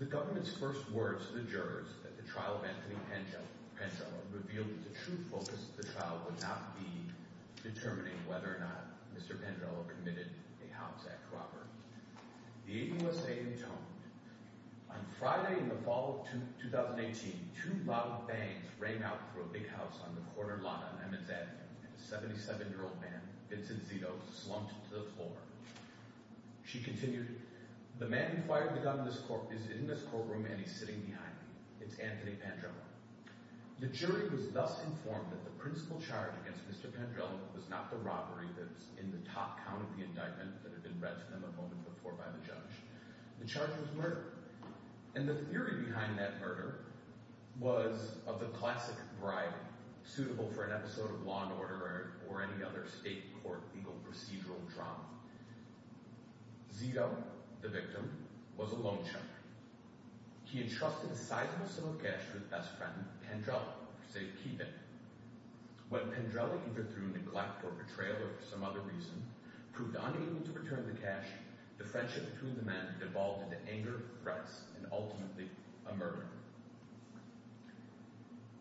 The government's first words to the jurors at the trial of Anthony Pandrella revealed that the true focus of the trial would not be determining whether or not Mr. Pandrella committed a house act robbery. The APUSA intoned, on Friday in the fall of 2018, two loud bangs rang out through a big house on the corner lot on Emmons Avenue, and a 77-year-old man, Vincent Zito, slumped to the floor. She continued, the man who fired the gun is in this courtroom and he's sitting behind me. It's Anthony Pandrella. The jury was thus informed that the principal charge against Mr. Pandrella was not the robbery that was in the top count of the indictment that had been read to them a moment before by the judge. The charge was murder, and the theory behind that murder was of the classic variety suitable for an episode of Law & Order or any other state court legal procedural drama. Zito, the victim, was a loan shark. He entrusted a sizable sum of cash to his best friend, Pandrella, for safekeeping. When Pandrella, either through neglect or betrayal or for some other reason, proved unable to return the cash, the friendship between the men devolved into anger, threats, and ultimately a murder.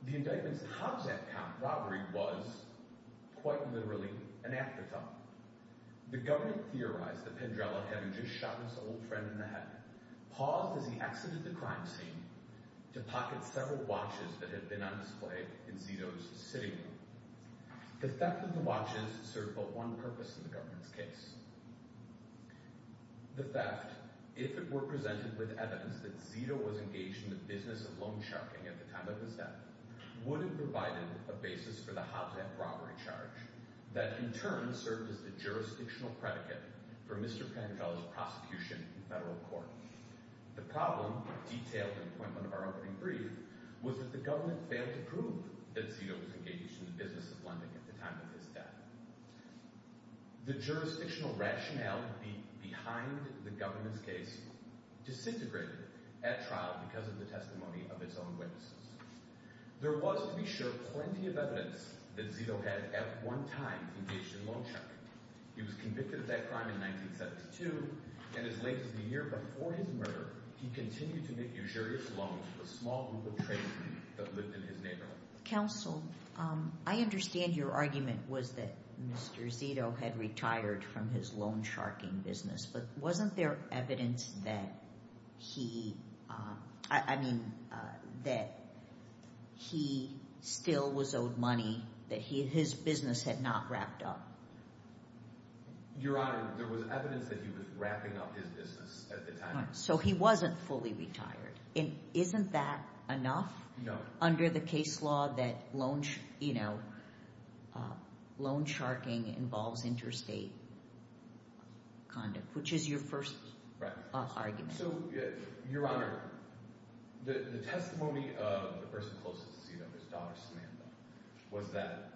The indictment's top-sec count robbery was, quite literally, an afterthought. The government theorized that Pandrella, having just shot his old friend in the head, paused as he exited the crime scene to pocket several watches that had been on display in Zito's sitting room. The theft of the watches served but one purpose in the government's case. The theft, if it were presented with evidence that Zito was engaged in the business of loan sharking at the time of his death, would have provided a basis for the hotline robbery charge that, in turn, served as the jurisdictional predicate for Mr. Pandrella's prosecution in federal court. The problem, detailed in Puentland, our opening brief, was that the Zito was engaged in the business of lending at the time of his death. The jurisdictional rationale behind the government's case disintegrated at trial because of the testimony of its own witnesses. There was, to be sure, plenty of evidence that Zito had, at one time, engaged in loan sharking. He was convicted of that crime in 1972, and as late as the year before his murder, he continued to make usurious loans to a small group of tradesmen that lived in his neighborhood. Counsel, I understand your argument was that Mr. Zito had retired from his loan sharking business, but wasn't there evidence that he, I mean, that he still was owed money, that his business had not wrapped up? Your Honor, there was evidence that he was wrapping up his business at the time. So he wasn't fully retired, and isn't that enough under the case law that loan sharking involves interstate conduct, which is your first argument? So, Your Honor, the testimony of the person closest to Zito, his daughter, Samantha, was that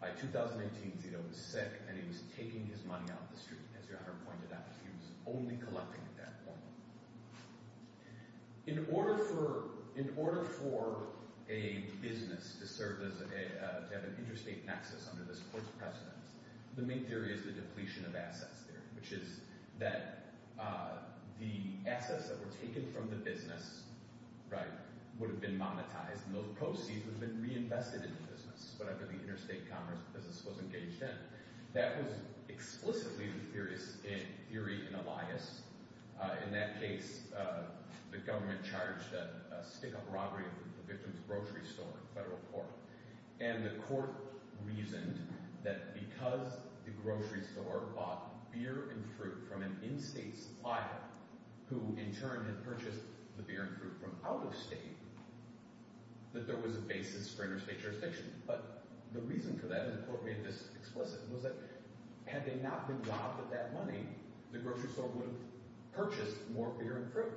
by 2018, Zito was sick, and he was taking his money out the street, as Your Honor pointed out, he was only collecting at that point. In order for a business to serve as a, to have an interstate nexus under this Court's precedence, the main theory is the depletion of assets theory, which is that the assets that were taken from the business, right, would have been monetized, and those proceeds would have been reinvested into business, whatever the interstate commerce business was engaged in. That was explicitly the theory in Elias. In that case, the government charged a stick-up robbery of the victim's grocery store in federal court, and the court reasoned that because the grocery store bought beer and fruit from an in-state supplier, who in turn had purchased the beer and fruit from out-of-state, that there was a basis for interstate jurisdiction. But the reason for that, and the logic of that money, the grocery store would have purchased more beer and fruit.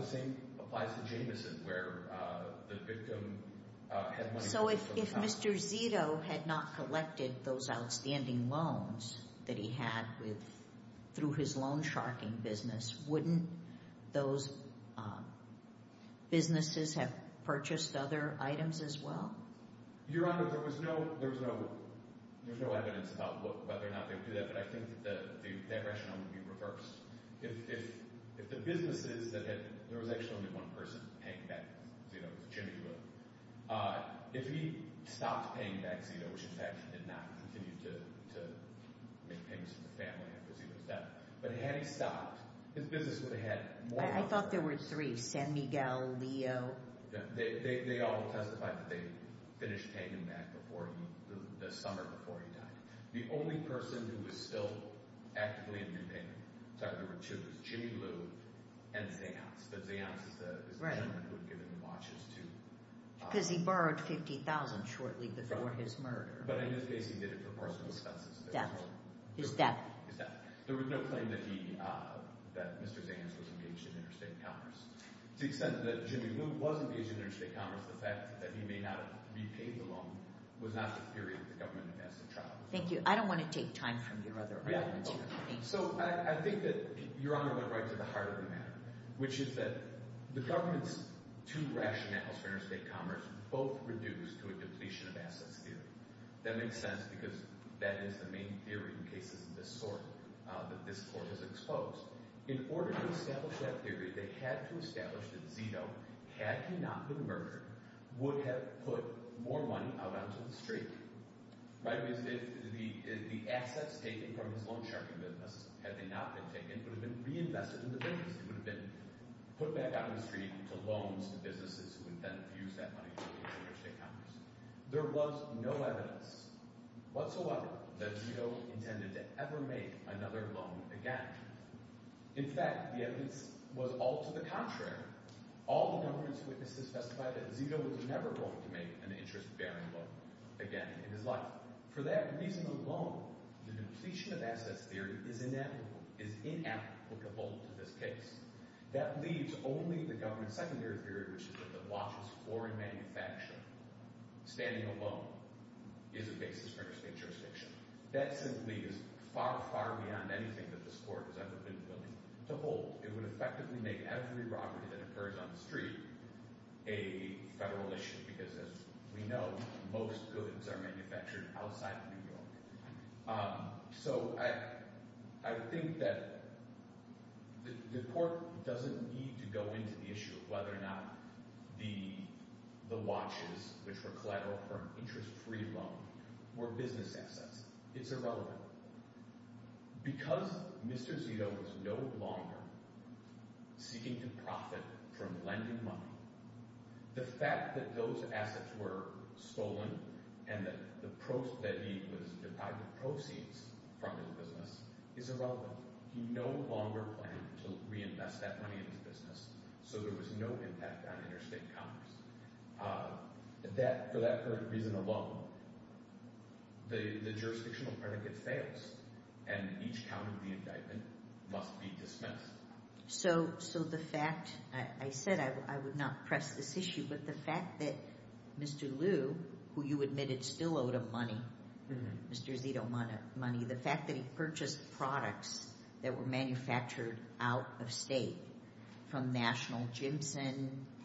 The same applies to Jamison, where the victim had money— So if Mr. Zito had not collected those outstanding loans that he had with, through his loan-sharking business, wouldn't those businesses have purchased other items as well? Your Honor, there was no, there was no, there's no evidence about whether or not they would do that, but I think that that rationale would be reversed. If the businesses that had, there was actually only one person paying back Zito's chimney loan, if he stopped paying back Zito, which in fact he did not continue to make payments to the family after Zito's death, but had he stopped, his business would have had more— I thought there were three, San Miguel, Leo. They all testified that they finished paying him back before, the summer before he died. The only person who was still actively in new payment, so there were two, was Jimmy Liu and Zeance, but Zeance is the gentleman who had given the watches to— Because he borrowed $50,000 shortly before his murder. But in this case, he did it for personal expenses. His death. His death. There was no claim that he, that Mr. Zeance was engaged in interstate commerce. To the extent that Jimmy Liu was engaged in interstate commerce, the fact that he may not have repaid the loan was not the period the government has to trial. Thank you. I don't want to take time from your other arguments here. So I think that Your Honor went right to the heart of the matter, which is that the government's two rationales for interstate commerce both reduce to a depletion of assets theory. That makes sense because that is the main theory in cases of this sort that this court has exposed. In order to establish that theory, they had to establish that Zito, had he not been murdered, would have put more money out onto the street, right? If the assets taken from his loan-sharking business, had they not been taken, would have been reinvested in the business. It would have been put back out on the street to loans to businesses who would then fuse that money to interstate commerce. There was no evidence whatsoever that Zito intended to ever make another loan again. In fact, the evidence was all to the contrary. All the government's witnesses specified that Zito was never going to make an interest-bearing loan again in his life. For that reason alone, the depletion of assets theory is inapplicable to this case. That leaves only the government's secondary theory, which is that the watchless foreign manufacturer standing alone is a basis for interstate jurisdiction. That simply is far, far beyond anything that this court has ever been to hold. It would effectively make every robbery that occurs on the street a federal issue, because as we know, most goods are manufactured outside of New York. So I think that the court doesn't need to go into the issue of whether or not the watches, which were collateral for an interest-free loan, were business assets. It's irrelevant. Because Mr. Zito is no longer seeking to profit from lending money, the fact that those assets were stolen and that he was deprived of proceeds from his business is irrelevant. He no longer planned to reinvest that money in his business, so there was no impact on interstate commerce. For that reason alone, the jurisdictional predicate fails, and each count of the indictment must be dismissed. So the fact—I said I would not press this issue—but the fact that Mr. Liu, who you admitted still owed him money, Mr. Zito money, the fact that he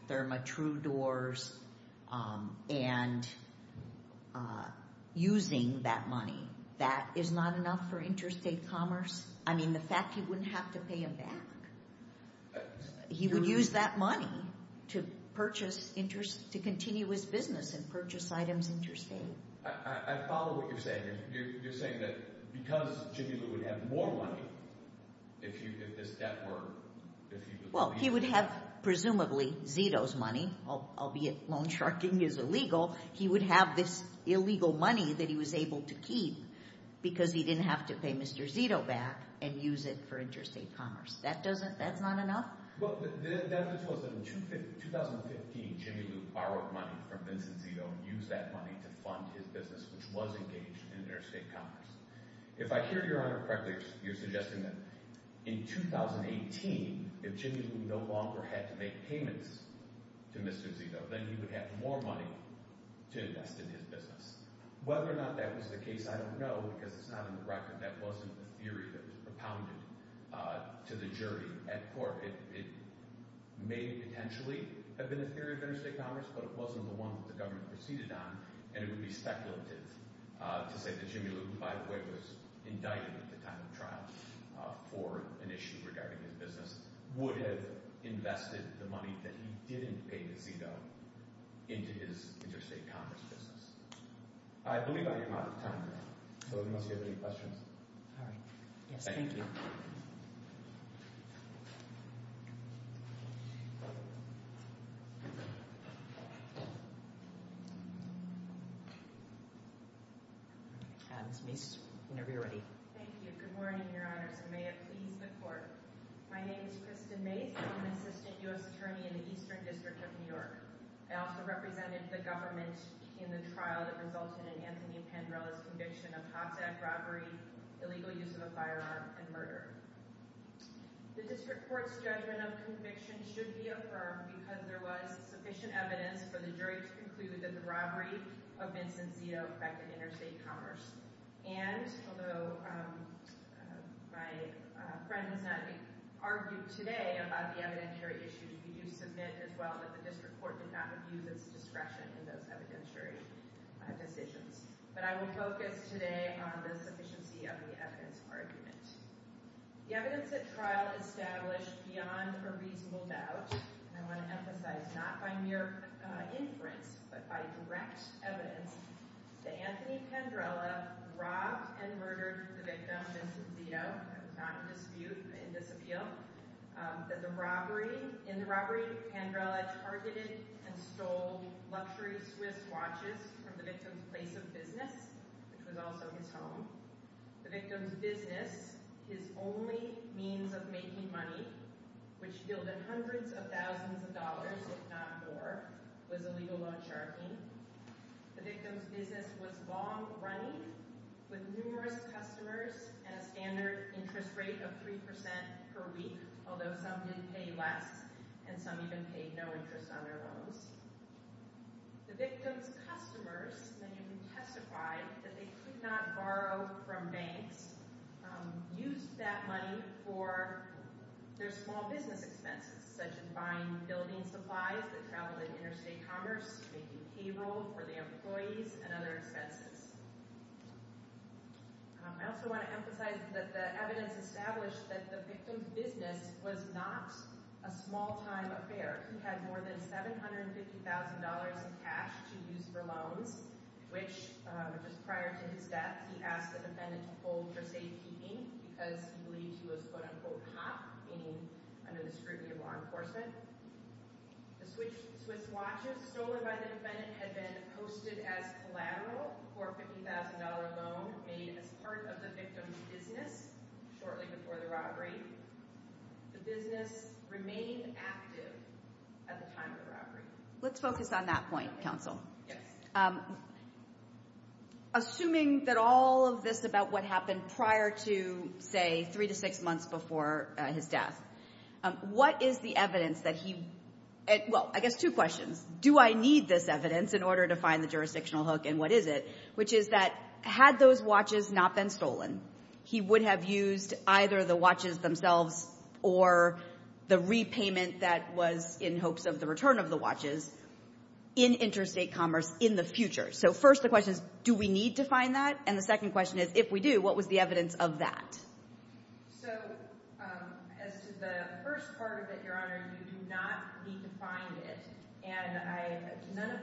Therma True Doors, and using that money, that is not enough for interstate commerce. I mean, the fact he wouldn't have to pay him back. He would use that money to continue his business and purchase items interstate. I follow what you're saying. You're saying that because Zito's money, albeit loan-sharking is illegal, he would have this illegal money that he was able to keep because he didn't have to pay Mr. Zito back and use it for interstate commerce. That's not enough? Well, the evidence was that in 2015, Jimmy Liu borrowed money from Vincent Zito and used that money to fund his business, which was engaged in interstate commerce. If I hear Your Honor correctly, you're suggesting that in 2018, if Jimmy Liu no longer had to make payments to Mr. Zito, then he would have more money to invest in his business. Whether or not that was the case, I don't know, because it's not in the record. That wasn't a theory that was propounded to the jury at court. It may potentially have been a theory of interstate commerce, but it wasn't the one that the government proceeded on, and it would be speculative to say that Jimmy Liu, who, by the way, was indicted at the time of the trial for an issue regarding his business, would have invested the money that he didn't pay Mr. Zito into his interstate commerce business. I believe I am out of time now, so unless you have any questions. All right. Yes, thank you. Thank you. Good morning, Your Honors, and may it please the Court. My name is Kristen Mace. I'm an assistant U.S. attorney in the Eastern District of New York. I also represented the government in the trial that resulted in Anthony Pandrella's conviction of hot-deck robbery, illegal use of a firearm, and murder. The District Court's judgment of conviction should be affirmed because there was sufficient evidence for the jury to conclude that the robbery of Vincent Zito affected interstate commerce, and although my friend has not argued today about the evidentiary issues, we do submit as well that the District Court did not abuse its discretion in those evidentiary decisions, but I would focus today on the sufficiency of the evidence argument. The evidence at trial established beyond a reasonable doubt, and I want to emphasize not by mere inference but by direct evidence, that Anthony Pandrella robbed and murdered the victim, Vincent Zito. That is not in dispute, but in disappeal, that the robbery, in the robbery, Pandrella targeted and stole luxury Swiss watches from the victim's place of business, which was also his home. The victim's business, his only means of making money, which yielded hundreds of thousands of dollars, if not more, was illegal loan sharking. The victim's business was long running with numerous customers and a standard interest rate of three percent per week, although some did pay less and some even paid no interest on their loans. The victim's customers, and you can testify that they could not borrow from banks, used that money for their small business expenses, such as buying building supplies that traveled in interstate commerce, making payroll for the employees, and other expenses. I also want to emphasize that the evidence established that the victim's business was not a small-time affair. He had more than $750,000 in cash to use for loans, which, just prior to his death, he asked the defendant to hold for safekeeping because he believed he was quote-unquote hot, meaning under the scrutiny of law enforcement. The Swiss watches stolen by the defendant had been posted as collateral for a $50,000 loan made as part of the victim's business shortly before the robbery. The business remained active at the time of the robbery. Let's focus on that point, counsel. Yes. Assuming that all of this about what happened prior to, say, three to six months before his Well, I guess two questions. Do I need this evidence in order to find the jurisdictional hook, and what is it? Which is that had those watches not been stolen, he would have used either the watches themselves or the repayment that was in hopes of the return of the watches in interstate commerce in the future. So first, the question is, do we need to find that? And the second question is, if we do, what was the evidence of that? So as to the first part of it, you do not need to find it. And none of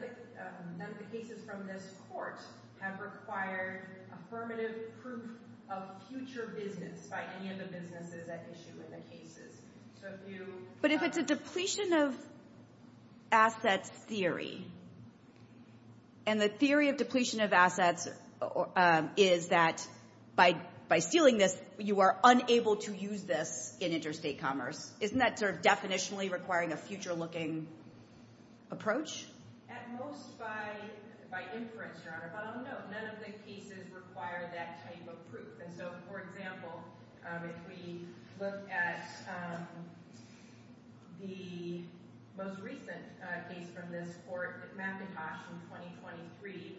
the cases from this court have required affirmative proof of future business by any of the businesses at issue in the cases. But if it's a depletion of assets theory, and the theory of depletion of assets is that by stealing this, you are unable to use this in interstate commerce, isn't that sort of definitionally requiring a future-looking approach? At most by inference, Your Honor, but on note, none of the cases require that type of proof. And so, for example, if we look at the most recent case from this court, McIntosh in 2023,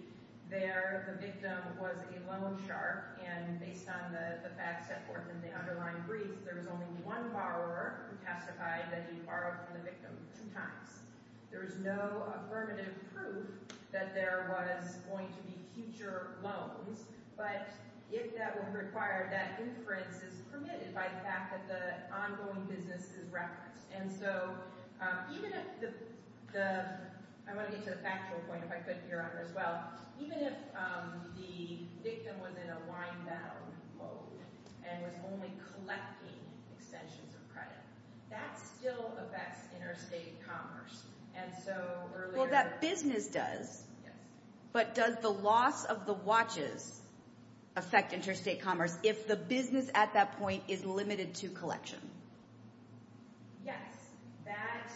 there the victim was a loan shark, and based on the facts that were in the underlying brief, there was only one borrower who testified that he borrowed from the victim two times. There was no affirmative proof that there was going to be future loans, but if that were required, that inference is permitted by the fact that the ongoing business is referenced. And so even if the—I want to get to the factual point, if I could, Your Honor, as well—even if the victim was in a wind-down mode and was only collecting extensions of credit, that still affects interstate commerce. And so earlier— Well, that business does, but does the loss of the watches affect interstate commerce if the business at that point is limited to collection? Yes. That,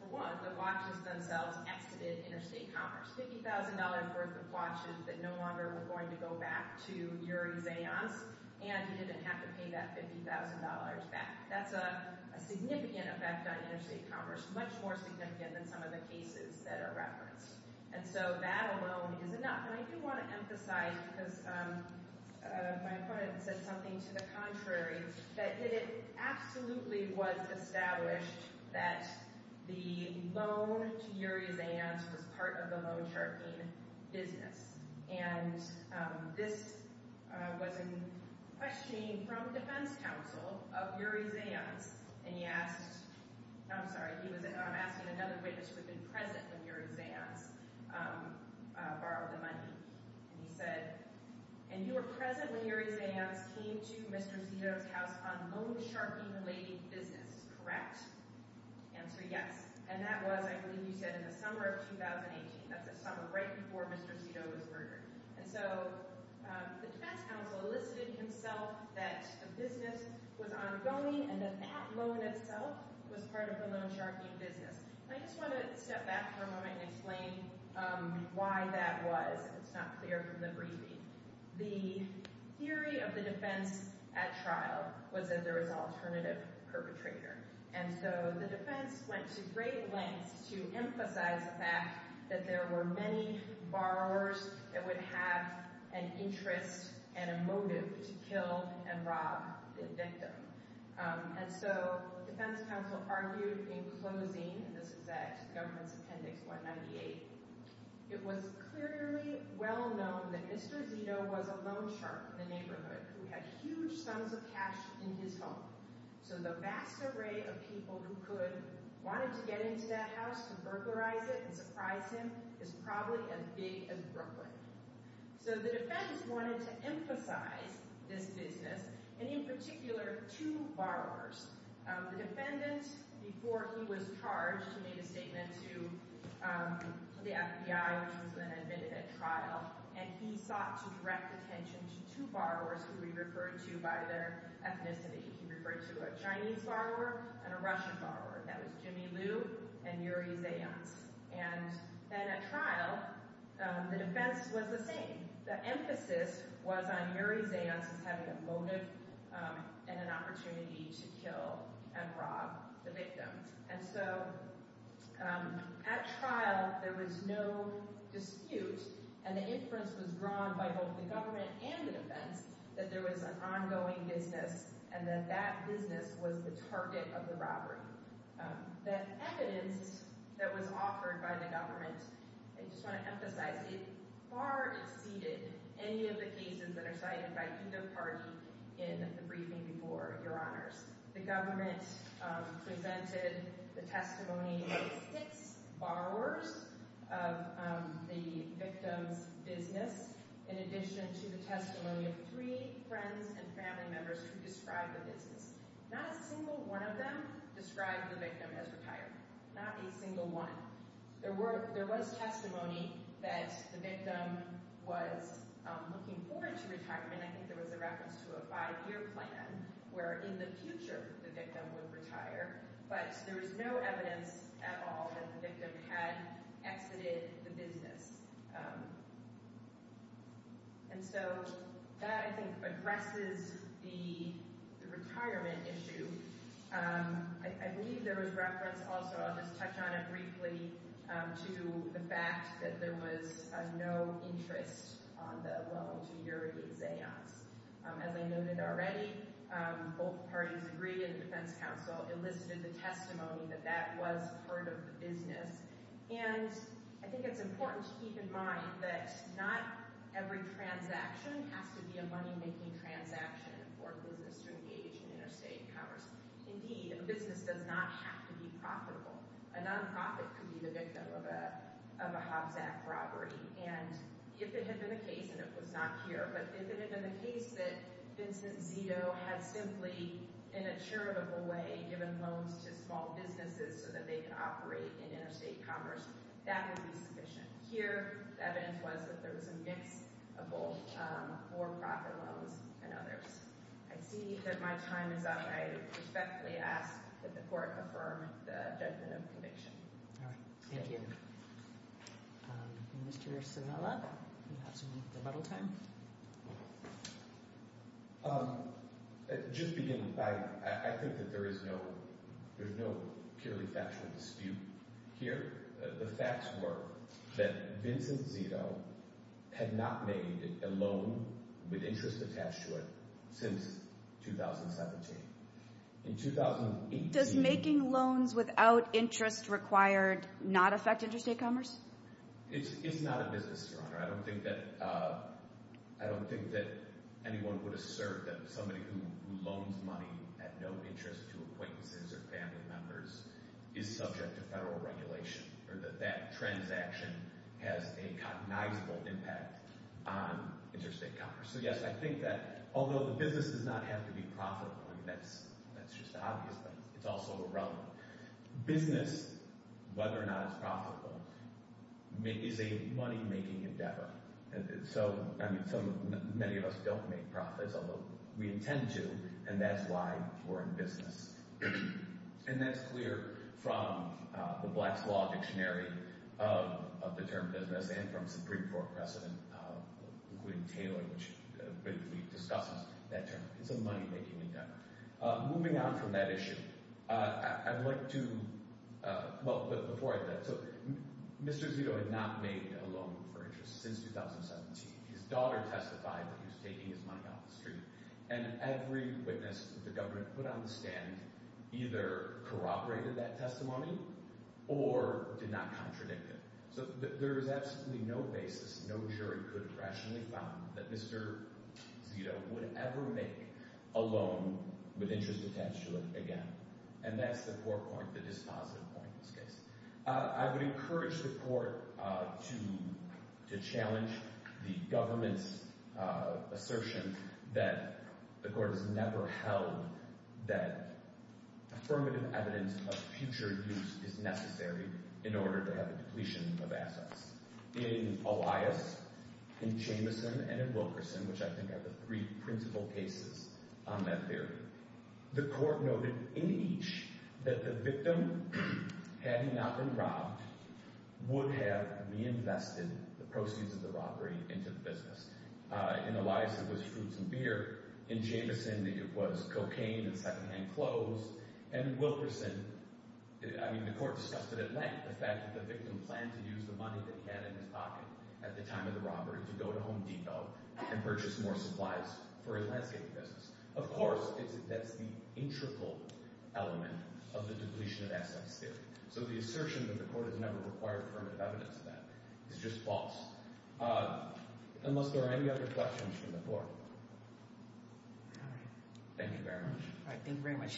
for one, the watches themselves exited interstate commerce. $50,000 worth of watches that no longer were going to go back to Yuri Zayans, and he didn't have to pay that $50,000 back. That's a significant effect on interstate commerce, much more significant than some of the cases that are referenced. And so that alone is enough. And I do want to emphasize, because my opponent said something to the contrary, that it absolutely was established that the loan to Yuri Zayans was part of the loan-sharking business. And this was a questioning from defense counsel of Yuri Zayans, and he asked—I'm sorry, he was—I'm asking another witness who'd been present when Yuri Zayans borrowed the money. And he said, and you were present when Yuri Zayans came to Mr. Zito's house on loan-sharking-related business, correct? Answer, yes. And that was, I believe you said, in the summer of 2018. That's the summer right before Mr. Zito was murdered. And so the defense counsel elicited himself that the business was ongoing and that that loan itself was part of the loan-sharking business. And I just want to step back for a moment and explain why that was. It's not clear from the briefing. The theory of the defense at trial was that there was an alternative perpetrator. And so the defense went to great lengths to emphasize the fact that there were many borrowers that would have an interest and a motive to kill and rob the victim. And so the defense counsel argued in Government's Appendix 198, it was clearly well known that Mr. Zito was a loan shark in the neighborhood who had huge sums of cash in his home. So the vast array of people who could—wanted to get into that house to burglarize it and surprise him is probably as big as Brooklyn. So the defense wanted to emphasize this business, and in particular two borrowers. The defendant, before he was charged, he made a statement to the FBI, which was then admitted at trial, and he sought to direct attention to two borrowers who he referred to by their ethnicity. He referred to a Chinese borrower and a Russian borrower. That was Jimmy Liu and Yuri Zayants. And then at trial, the defense was the same. The emphasis was on Yuri Zayants as having a motive and an opportunity to kill and rob the victim. And so at trial, there was no dispute, and the inference was drawn by both the government and the defense that there was an ongoing business and that that business was the target of the robbery. The evidence that was offered by the government, I just want to emphasize, it far exceeded any of the cases that are cited by the briefing before your honors. The government presented the testimony of six borrowers of the victim's business in addition to the testimony of three friends and family members who described the business. Not a single one of them described the victim as retired. Not a single one. There were, there was testimony that the victim was looking forward to retirement. I think there was a reference to a five-year plan where in the future the victim would retire, but there was no evidence at all that the victim had exited the business. And so that, I think, addresses the retirement issue. I believe there was reference also, I'll just touch on it briefly, to the fact that there was no interest on the loan to Yuri Zayas. As I noted already, both parties agreed and the defense counsel elicited the testimony that that was part of the business. And I think it's important to keep in mind that not every transaction has to be a money-making transaction for a business to engage in interstate commerce. Indeed, a business does not have to be profitable. A non-profit could be the victim of a Hobbs Act robbery. And if it had been the case, and it was not here, but if it had been the case that Vincent Zito had simply, in a charitable way, given loans to small businesses so that they could operate in interstate commerce, that would be sufficient. Here, the evidence was that there was a mix of both I see that my time is up. I respectfully ask that the court affirm the judgment of conviction. All right, thank you. Mr. Sivella, you have some rebuttal time. Just beginning, I think that there is no purely factual dispute here. The facts were that Vincent Zito has been a business attached to it since 2017. Does making loans without interest required not affect interstate commerce? It's not a business, Your Honor. I don't think that anyone would assert that somebody who loans money at no interest to acquaintances or family members is subject to federal regulation, or that that transaction has a cognizable impact on interstate commerce. So, yes, I think that although the business does not have to be profitable—I mean, that's just obvious, but it's also irrelevant—business, whether or not it's profitable, is a money-making endeavor. So, I mean, many of us don't make profits, although we intend to, and that's why we're in business. And that's clear from the Black's Law Dictionary of the Middle East, which discusses that term. It's a money-making endeavor. Moving on from that issue, I'd like to—well, but before I do that, so Mr. Zito had not made a loan for interest since 2017. His daughter testified that he was taking his money off the street, and every witness the government put on the stand either corroborated that testimony or did not contradict it. So, there is absolutely no basis, no jury could have rationally found that Mr. Zito would ever make a loan with interest attached to it again. And that's the core point, the dispositive point of this case. I would encourage the court to challenge the government's assertion that the court has never held that affirmative evidence of future use is necessary in order to have a in Elias, in Jamison, and in Wilkerson, which I think are the three principal cases on that theory. The court noted in each that the victim, having not been robbed, would have reinvested the proceeds of the robbery into the business. In Elias, it was fruits and beer. In Jamison, it was cocaine and secondhand clothes. And Wilkerson—I mean, the court discussed it at length, the fact that the victim planned to use the money that he had in his pocket at the time of the robbery to go to Home Depot and purchase more supplies for his landscaping business. Of course, that's the integral element of the depletion of assets theory. So, the assertion that the court has never required affirmative evidence of that is just false. Unless there are any other questions from the floor. Thank you very much.